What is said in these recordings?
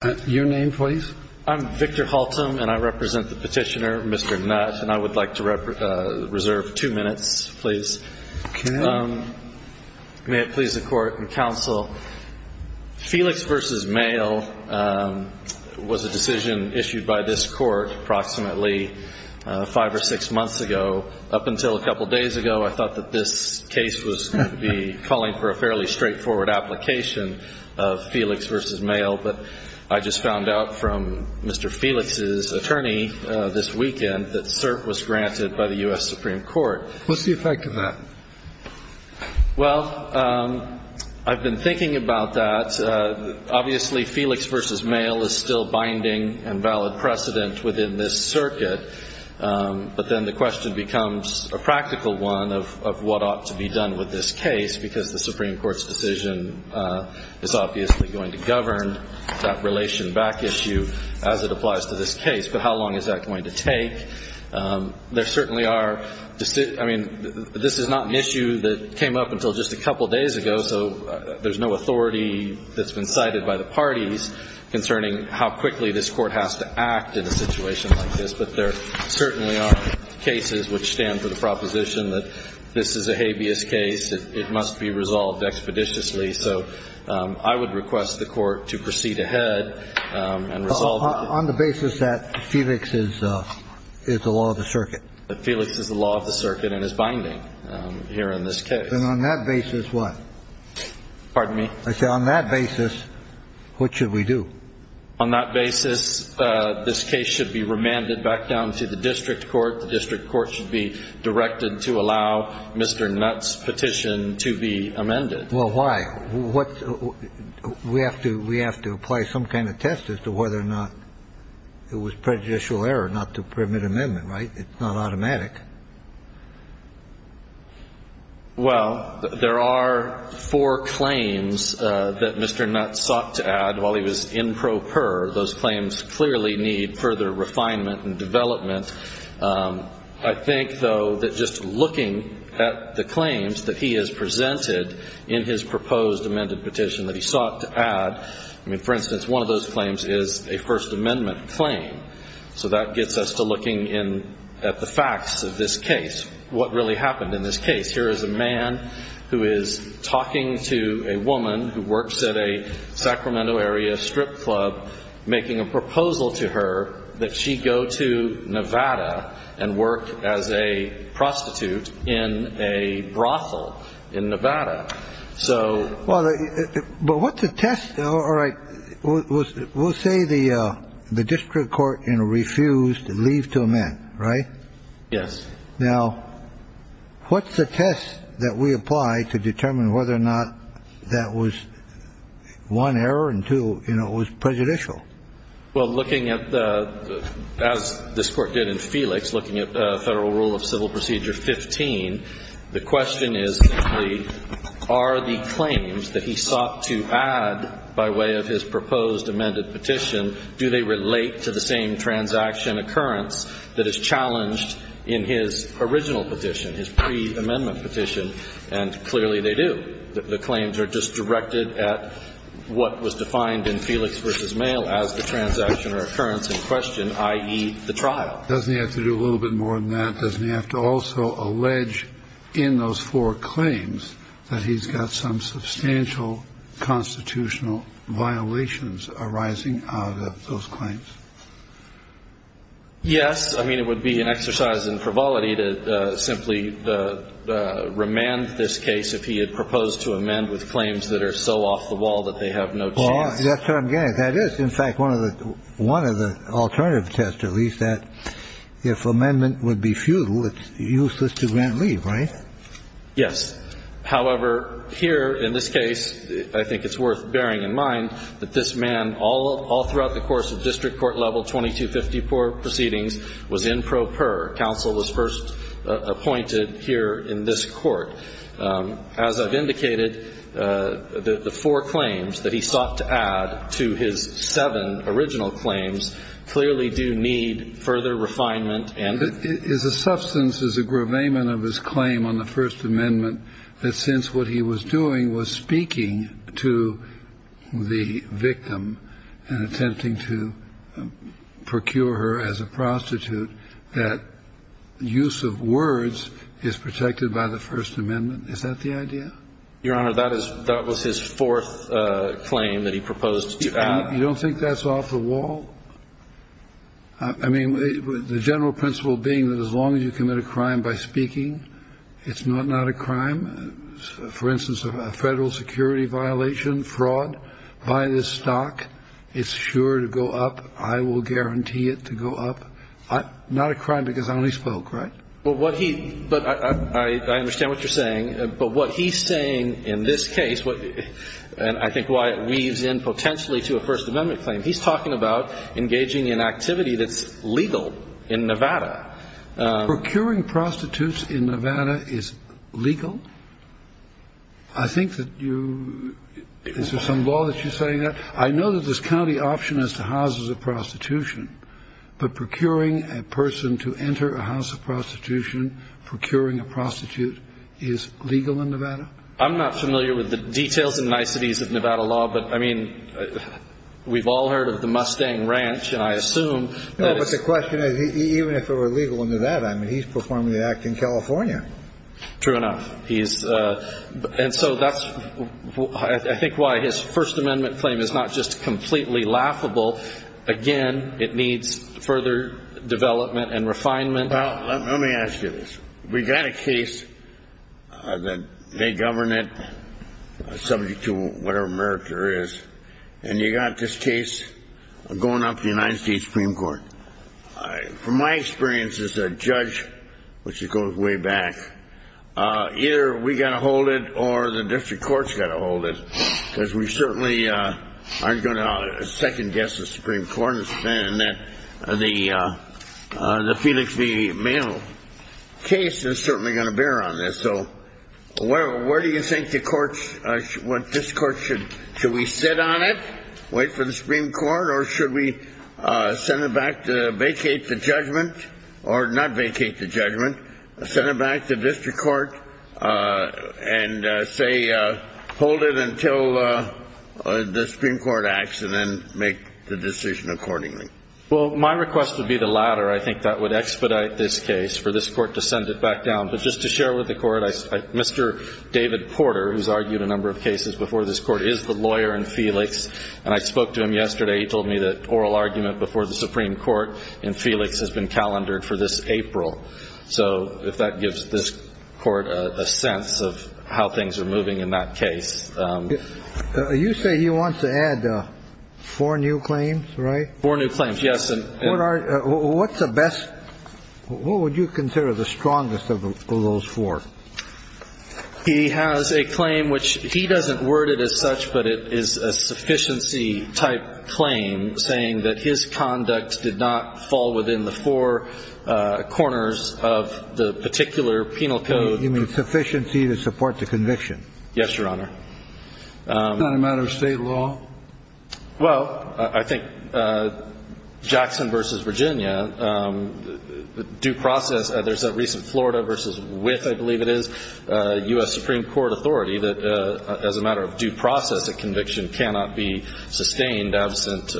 I represent the petitioner, Mr. Nutt, and I would like to reserve two minutes, please. May it please the court and counsel, Felix v. Mayo was a decision issued by this court approximately five or six months ago. Up until a couple days ago, I thought that this case was going to be calling for a fairly straightforward application of Felix v. Mayo, but I just found out from Mr. Felix's attorney this weekend that cert was granted by the U.S. Supreme Court. What's the effect of that? Well, I've been thinking about that. Obviously, Felix v. Mayo is still binding and valid precedent within this circuit, but then the question becomes a practical one of what ought to be done with this case, because the Supreme Court's decision is obviously going to govern that relation back issue as it applies to this case. But how long is that going to take? There certainly are – I mean, this is not an issue that came up until just a couple days ago, so there's no authority that's been cited by the parties concerning how quickly this court has to act in a situation like this, but there certainly are cases which stand for the proposition that this is a habeas case. It must be resolved expeditiously. So I would request the Court to proceed ahead and resolve it. On the basis that Felix is the law of the circuit? That Felix is the law of the circuit and is binding here in this case. And on that basis, what? Pardon me? I said on that basis, what should we do? On that basis, this case should be remanded back down to the district court. The district court should be directed to allow Mr. Nutt's petition to be amended. Well, why? We have to apply some kind of test as to whether or not it was prejudicial error not to permit amendment, right? It's not automatic. Well, there are four claims that Mr. Nutt sought to add while he was in pro per. Those claims clearly need further refinement and development. I think, though, that just looking at the claims that he has presented in his proposed amended petition that he sought to add, I mean, for instance, one of those claims is a First Amendment claim, so that gets us to looking at the facts of this case, what really happened in this case. Here is a man who is talking to a woman who works at a Sacramento area strip club, making a proposal to her that she go to Nevada and work as a prostitute in a brothel in Nevada. Well, but what's the test? All right. We'll say the district court refused to leave to amend, right? Yes. Now, what's the test that we apply to determine whether or not that was one, error, and two, it was prejudicial? Well, looking at, as this Court did in Felix, looking at Federal Rule of Civil Procedure 15, the question is are the claims that he sought to add by way of his proposed amended petition, do they relate to the same transaction occurrence that is challenged in his original petition, his pre-amendment petition, and clearly they do. The claims are just directed at what was defined in Felix v. Mail as the transaction or occurrence in question, i.e., the trial. Doesn't he have to do a little bit more than that? Doesn't he have to also allege in those four claims that he's got some substantial constitutional violations arising out of those claims? Yes. I mean, it would be an exercise in frivolity to simply remand this case if he had proposed to amend with claims that are so off the wall that they have no chance. Well, that's what I'm getting at. That is, in fact, one of the alternative tests, at least, that if amendment would be futile, it's useless to grant leave, right? Yes. However, here in this case, I think it's worth bearing in mind that this man all throughout the course of district court-level 2254 proceedings was in pro per. Counsel was first appointed here in this Court. As I've indicated, the four claims that he sought to add to his seven original claims clearly do need further refinement and- His substance is a gravamen of his claim on the First Amendment that since what he was doing was speaking to the victim and attempting to procure her as a prostitute, that use of words is protected by the First Amendment. Is that the idea? Your Honor, that was his fourth claim that he proposed to add. You don't think that's off the wall? I mean, the general principle being that as long as you commit a crime by speaking, it's not a crime. For instance, a Federal security violation, fraud, buy this stock, it's sure to go up. I will guarantee it to go up. Not a crime because I only spoke, right? Well, what he- But I understand what you're saying, but what he's saying in this case, and I think why it weaves in potentially to a First Amendment claim, he's talking about engaging in activity that's legal in Nevada. Procuring prostitutes in Nevada is legal? I think that you- Is there some law that you're saying that? I know that this county option is to house as a prostitution, but procuring a person to enter a house of prostitution, procuring a prostitute, is legal in Nevada? I'm not familiar with the details and niceties of Nevada law, but, I mean, we've all heard of the Mustang Ranch, and I assume- No, but the question is, even if it were legal in Nevada, I mean, he's performing the act in California. True enough. And so that's, I think, why his First Amendment claim is not just completely laughable. Again, it needs further development and refinement. Well, let me ask you this. We've got a case that they govern it subject to whatever merit there is, and you've got this case going up to the United States Supreme Court. From my experience as a judge, which goes way back, either we've got to hold it or the district court's got to hold it, because we certainly aren't going to second-guess the Supreme Court in that the Felix V. Mayo case is certainly going to bear on this. So where do you think the courts- this court should- should we sit on it, wait for the Supreme Court, or should we send it back to vacate the judgment, or not vacate the judgment, send it back to district court, and say hold it until the Supreme Court acts and then make the decision accordingly? Well, my request would be the latter. I think that would expedite this case for this court to send it back down. But just to share with the court, Mr. David Porter, who's argued a number of cases before this court, is the lawyer in Felix, and I spoke to him yesterday. He told me that oral argument before the Supreme Court in Felix has been calendared for this April. So if that gives this court a sense of how things are moving in that case. You say he wants to add four new claims, right? Four new claims, yes. What are- what's the best- what would you consider the strongest of those four? He has a claim which he doesn't word it as such, but it is a sufficiency-type claim saying that his conduct did not fall within the four corners of the particular penal code. You mean sufficiency to support the conviction? Yes, Your Honor. Is that a matter of state law? Well, I think Jackson v. Virginia, due process, there's a recent Florida v. Wythe, I believe it is, U.S. Supreme Court authority that as a matter of due process, a conviction cannot be sustained absent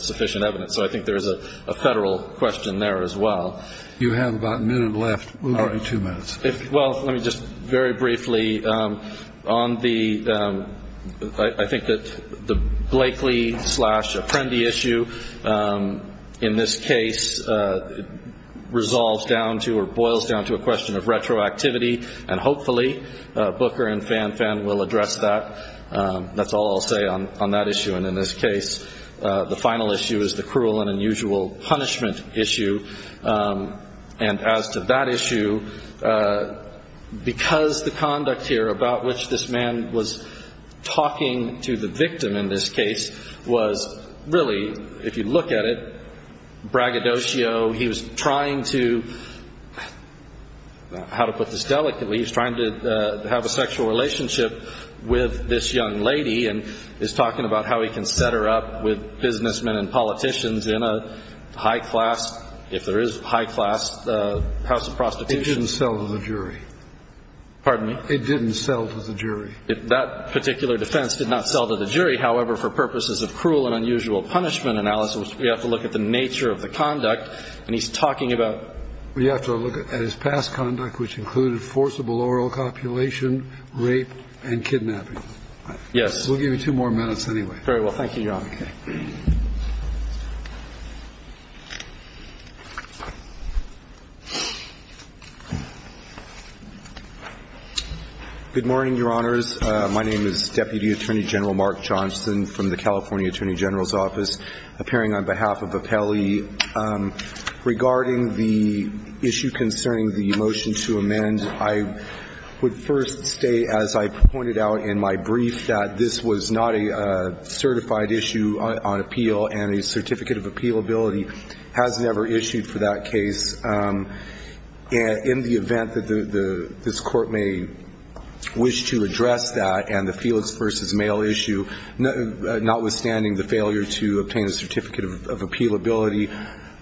sufficient evidence. So I think there's a federal question there as well. You have about a minute left. All right, two minutes. Well, let me just very briefly on the- I think that the Blakely slash Apprendi issue in this case resolves down to or boils down to a question of retroactivity, and hopefully Booker and Fan Fan will address that. That's all I'll say on that issue. And in this case, the final issue is the cruel and unusual punishment issue. And as to that issue, because the conduct here about which this man was talking to the victim in this case was really, if you look at it, braggadocio. He was trying to, how to put this delicately, he was trying to have a sexual relationship with this young lady and is talking about how he can set her up with businessmen and politicians in a high-class, if there is high-class, house of prostitution. It didn't sell to the jury. Pardon me? It didn't sell to the jury. That particular defense did not sell to the jury. However, for purposes of cruel and unusual punishment analysis, we have to look at the nature of the conduct. And he's talking about- We have to look at his past conduct, which included forcible oral copulation, rape, and kidnapping. Yes. We'll give you two more minutes anyway. Very well. Thank you, Your Honor. Okay. Good morning, Your Honors. My name is Deputy Attorney General Mark Johnson from the California Attorney General's Office, appearing on behalf of Appelli. Regarding the issue concerning the motion to amend, I would first state, as I pointed out in my brief, that this was not a certified issue on appeal and a certificate of appealability has never issued for that case. In the event that this Court may wish to address that and the Felix v. Male issue, notwithstanding the failure to obtain a certificate of appealability,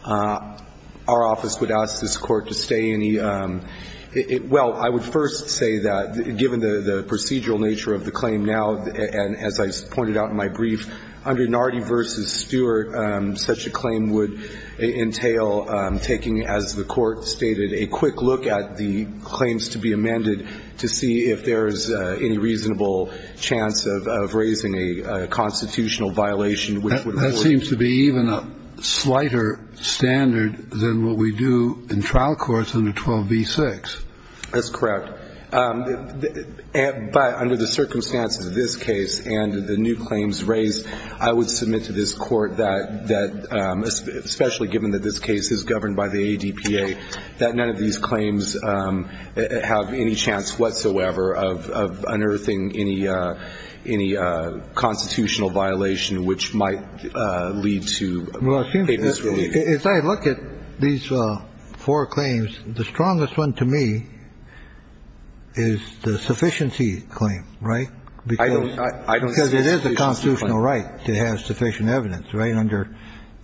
our office would ask this Court to stay any- Well, I would first say that, given the procedural nature of the claim now, and as I pointed out in my brief, under Nardi v. Stewart, such a claim would entail taking, as the Court stated, a quick look at the claims to be amended to see if there is any reasonable chance of raising a constitutional violation which would hold- There seems to be even a slighter standard than what we do in trial courts under 12b-6. That's correct. But under the circumstances of this case and the new claims raised, I would submit to this Court that, especially given that this case is governed by the ADPA, that none of these claims have any chance whatsoever of unearthing any constitutional violation which might lead to a misrelief. Well, it seems to me, as I look at these four claims, the strongest one to me is the sufficiency claim, right? I don't see a sufficiency claim. Because it is a constitutional right to have sufficient evidence, right, under,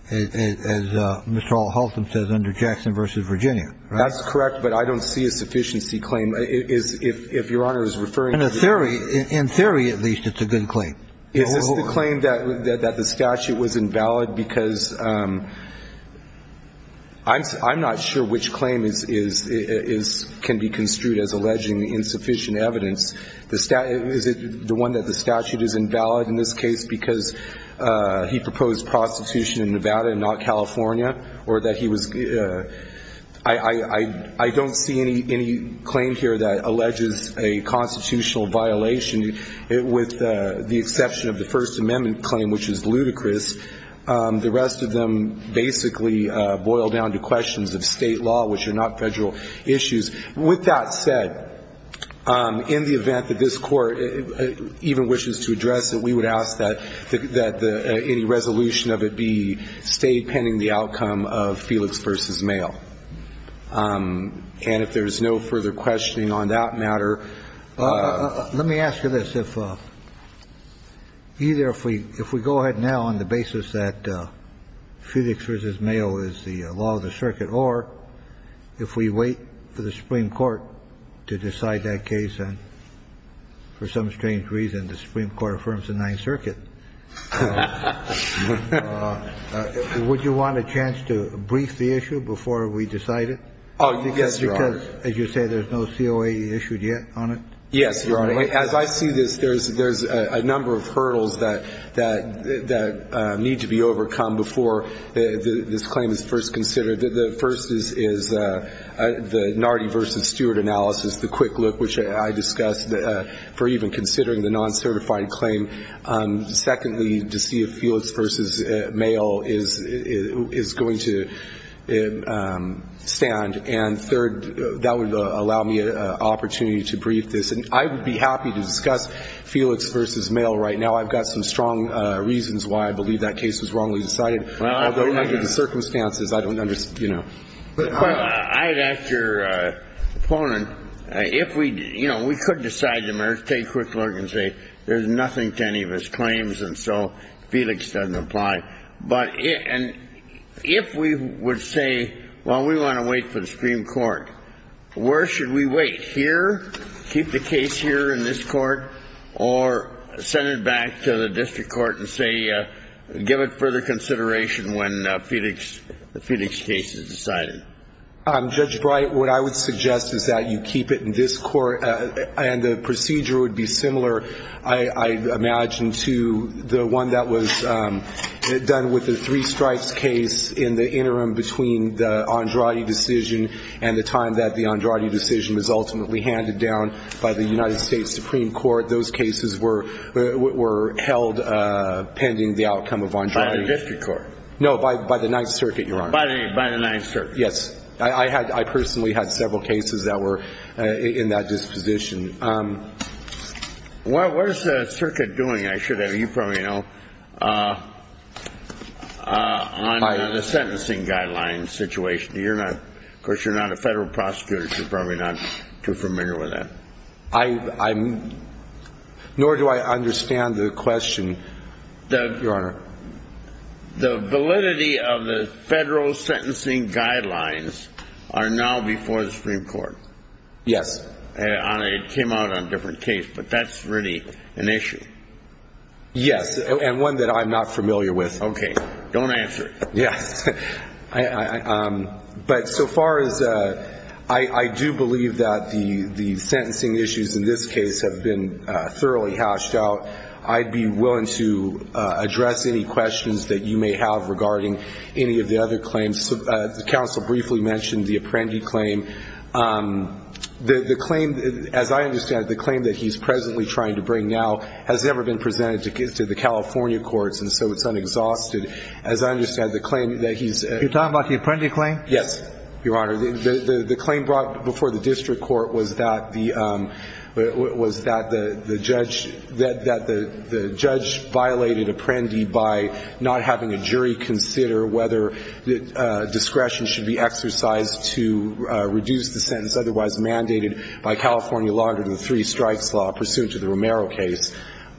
as Mr. Haltham says, under Jackson v. Virginia, right? That's correct, but I don't see a sufficiency claim. If Your Honor is referring to- In theory, at least, it's a good claim. Is this the claim that the statute was invalid? Because I'm not sure which claim can be construed as alleging insufficient evidence. Is it the one that the statute is invalid in this case because he proposed prostitution in Nevada and not California? Or that he was – I don't see any claim here that alleges a constitutional violation with the exception of the First Amendment claim, which is ludicrous. The rest of them basically boil down to questions of State law, which are not Federal issues. With that said, in the event that this Court even wishes to address it, we would ask that any resolution of it be stayed pending the outcome of Felix v. Mayo. And if there's no further questioning on that matter- Let me ask you this. If either if we go ahead now on the basis that Felix v. Mayo is the law of the circuit, or if we wait for the Supreme Court to decide that case, and for some strange reason the Supreme Court affirms the Ninth Circuit, would you want a chance to brief the issue before we decide it? Oh, yes, Your Honor. Because, as you say, there's no COA issued yet on it? Yes, Your Honor. As I see this, there's a number of hurdles that need to be overcome before this claim is first considered. The first is the Nardi v. Stewart analysis, the quick look, which I discussed for even considering the non-certified claim. Secondly, to see if Felix v. Mayo is going to stand. And third, that would allow me an opportunity to brief this. And I would be happy to discuss Felix v. Mayo right now. I've got some strong reasons why I believe that case was wrongly decided. Although, under the circumstances, I don't understand, you know. I'd ask your opponent, if we, you know, we could decide the matter, take a quick look and say, there's nothing to any of his claims, and so Felix doesn't apply. But if we would say, well, we want to wait for the Supreme Court, where should we wait? Here? Keep the case here in this court? Or send it back to the district court and say, give it further consideration when Felix's case is decided? Judge Bright, what I would suggest is that you keep it in this court. And the procedure would be similar, I imagine, to the one that was done with the three strikes case in the interim between the Andrade decision and the time that the Andrade decision was ultimately handed down by the United States Supreme Court. Those cases were held pending the outcome of Andrade. By the district court? No, by the Ninth Circuit, Your Honor. By the Ninth Circuit. Yes. I personally had several cases that were in that disposition. What is the circuit doing, I should have you probably know, on the sentencing guidelines situation? Of course, you're not a federal prosecutor, so you're probably not too familiar with that. Nor do I understand the question, Your Honor. The validity of the federal sentencing guidelines are now before the Supreme Court. Yes. It came out on a different case, but that's really an issue. Yes, and one that I'm not familiar with. Okay. Don't answer it. Yes. But so far as I do believe that the sentencing issues in this case have been thoroughly hashed out. I'd be willing to address any questions that you may have regarding any of the other claims. The counsel briefly mentioned the Apprendi claim. The claim, as I understand it, the claim that he's presently trying to bring now has never been presented to the California courts, and so it's unexhausted. As I understand the claim that he's ---- You're talking about the Apprendi claim? Yes, Your Honor. The claim brought before the district court was that the judge violated Apprendi by not having a jury consider whether discretion should be exercised to reduce the sentence otherwise mandated by California law under the three strikes law pursuant to the Romero case,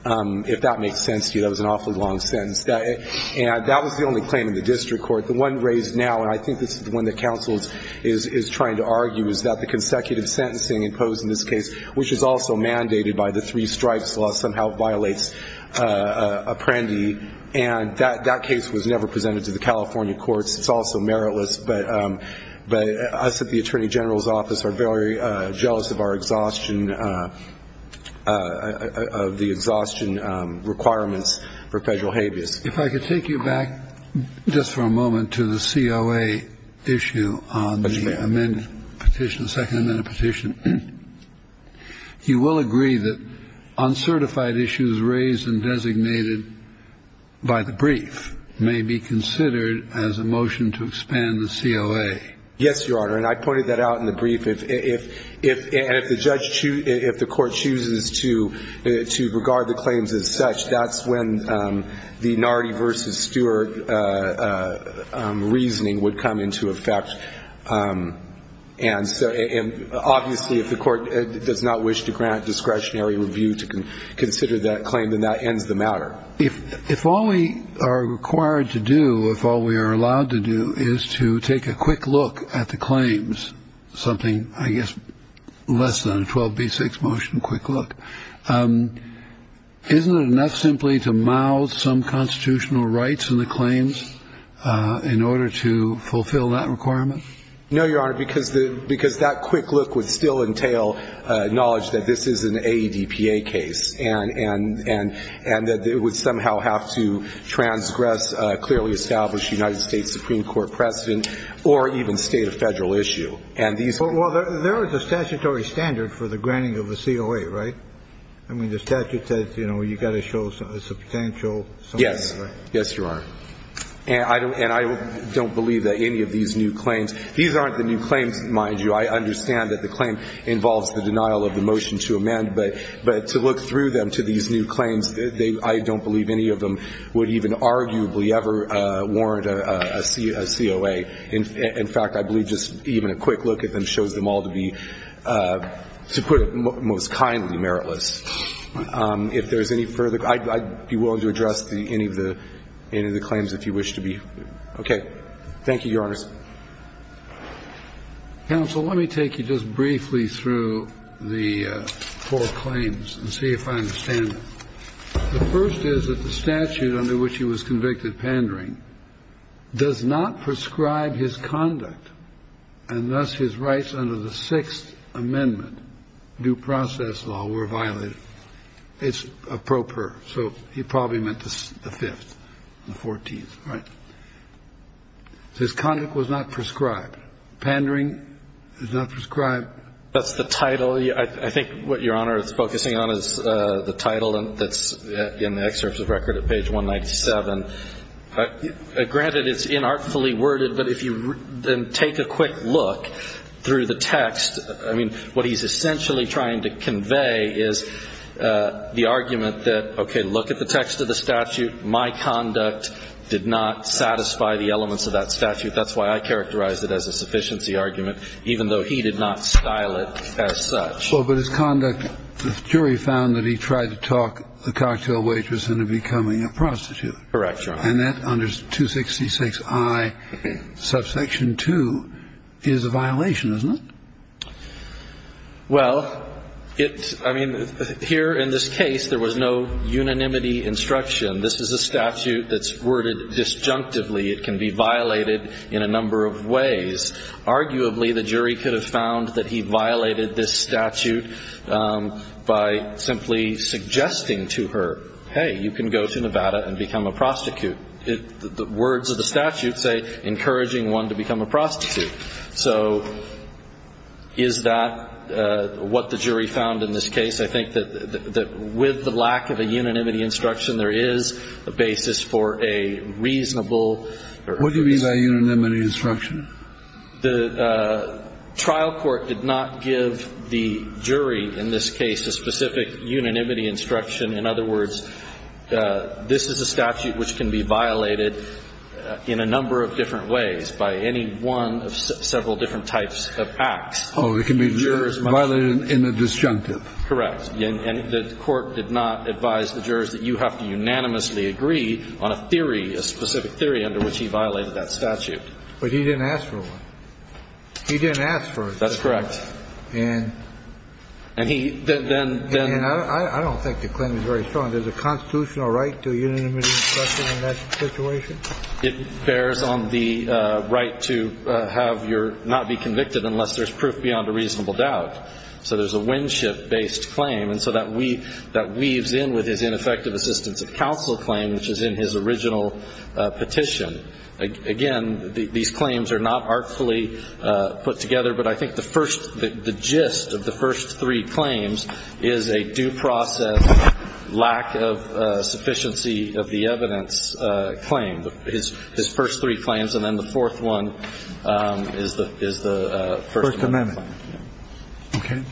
if that makes sense to you. That was an awfully long sentence. And that was the only claim in the district court. The one raised now, and I think this is the one that counsel is trying to argue, is that the consecutive sentencing imposed in this case, which is also mandated by the three strikes law, somehow violates Apprendi. And that case was never presented to the California courts. It's also meritless. But us at the Attorney General's Office are very jealous of our exhaustion, of the exhaustion requirements for federal habeas. If I could take you back just for a moment to the COA issue on the amended petition, the second amended petition. You will agree that uncertified issues raised and designated by the brief may be considered as a motion to expand the COA. Yes, Your Honor. And I pointed that out in the brief. And if the court chooses to regard the claims as such, that's when the Nardi v. Stewart reasoning would come into effect. And obviously if the court does not wish to grant discretionary review to consider that claim, then that ends the matter. If all we are required to do, if all we are allowed to do, is to take a quick look at the claims, something I guess less than a 12B6 motion quick look, isn't it enough simply to mouth some constitutional rights in the claims in order to fulfill that requirement? No, Your Honor, because that quick look would still entail knowledge that this is an AEDPA case and that it would somehow have to transgress clearly established United States Supreme Court precedent or even state a federal issue. Well, there is a statutory standard for the granting of a COA, right? I mean, the statute says, you know, you've got to show a substantial sum. Yes. Yes, Your Honor. And I don't believe that any of these new claims, these aren't the new claims, mind you. I understand that the claim involves the denial of the motion to amend. But to look through them to these new claims, I don't believe any of them would even arguably ever warrant a COA. In fact, I believe just even a quick look at them shows them all to be, to put it most kindly, meritless. If there's any further, I'd be willing to address any of the claims if you wish to be. Okay. Thank you, Your Honors. Counsel, let me take you just briefly through the four claims and see if I understand them. The first is that the statute under which he was convicted, pandering, does not prescribe his conduct, and thus his rights under the Sixth Amendment due process law were violated. It's a pro per, so he probably meant the Fifth, the Fourteenth, right? His conduct was not prescribed. Pandering is not prescribed. That's the title. Well, I think what Your Honor is focusing on is the title that's in the excerpts of record at page 197. Granted, it's inartfully worded, but if you then take a quick look through the text, I mean, what he's essentially trying to convey is the argument that, okay, look at the text of the statute. My conduct did not satisfy the elements of that statute. That's why I characterized it as a sufficiency argument, even though he did not style it as such. Well, but his conduct, the jury found that he tried to talk the cocktail waitress into becoming a prostitute. Correct, Your Honor. And that under 266I, subsection 2, is a violation, isn't it? Well, it's – I mean, here in this case, there was no unanimity instruction. This is a statute that's worded disjunctively. It can be violated in a number of ways. Arguably, the jury could have found that he violated this statute by simply suggesting to her, hey, you can go to Nevada and become a prostitute. The words of the statute say encouraging one to become a prostitute. So is that what the jury found in this case? I think that with the lack of a unanimity instruction, there is a basis for a reasonable What do you mean by unanimity instruction? The trial court did not give the jury in this case a specific unanimity instruction. In other words, this is a statute which can be violated in a number of different ways by any one of several different types of acts. Oh, it can be violated in a disjunctive. Correct. And the court did not advise the jurors that you have to unanimously agree on a theory, under which he violated that statute. But he didn't ask for one. He didn't ask for one. That's correct. And I don't think the claim is very strong. There's a constitutional right to a unanimity instruction in that situation? It bears on the right to have your not be convicted unless there's proof beyond a reasonable doubt. So there's a Winship-based claim. And so that weaves in with his ineffective assistance of counsel claim, which is in his petition. Again, these claims are not artfully put together. But I think the first, the gist of the first three claims is a due process, lack of sufficiency of the evidence claim, his first three claims. And then the fourth one is the first one. First amendment. Okay.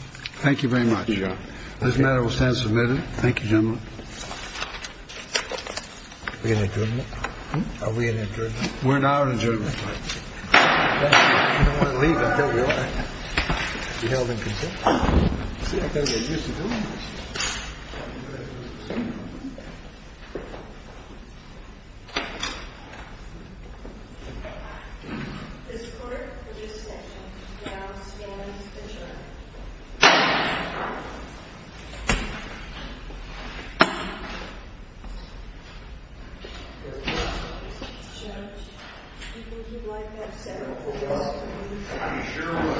This matter will stand submitted. Thank you, gentlemen. Are we in adjournment? We're now in adjournment. I don't want to leave. I don't want to be held in contempt. See, I've got to get used to doing this. The support of this session now stands adjourned. Thank you. Thank you.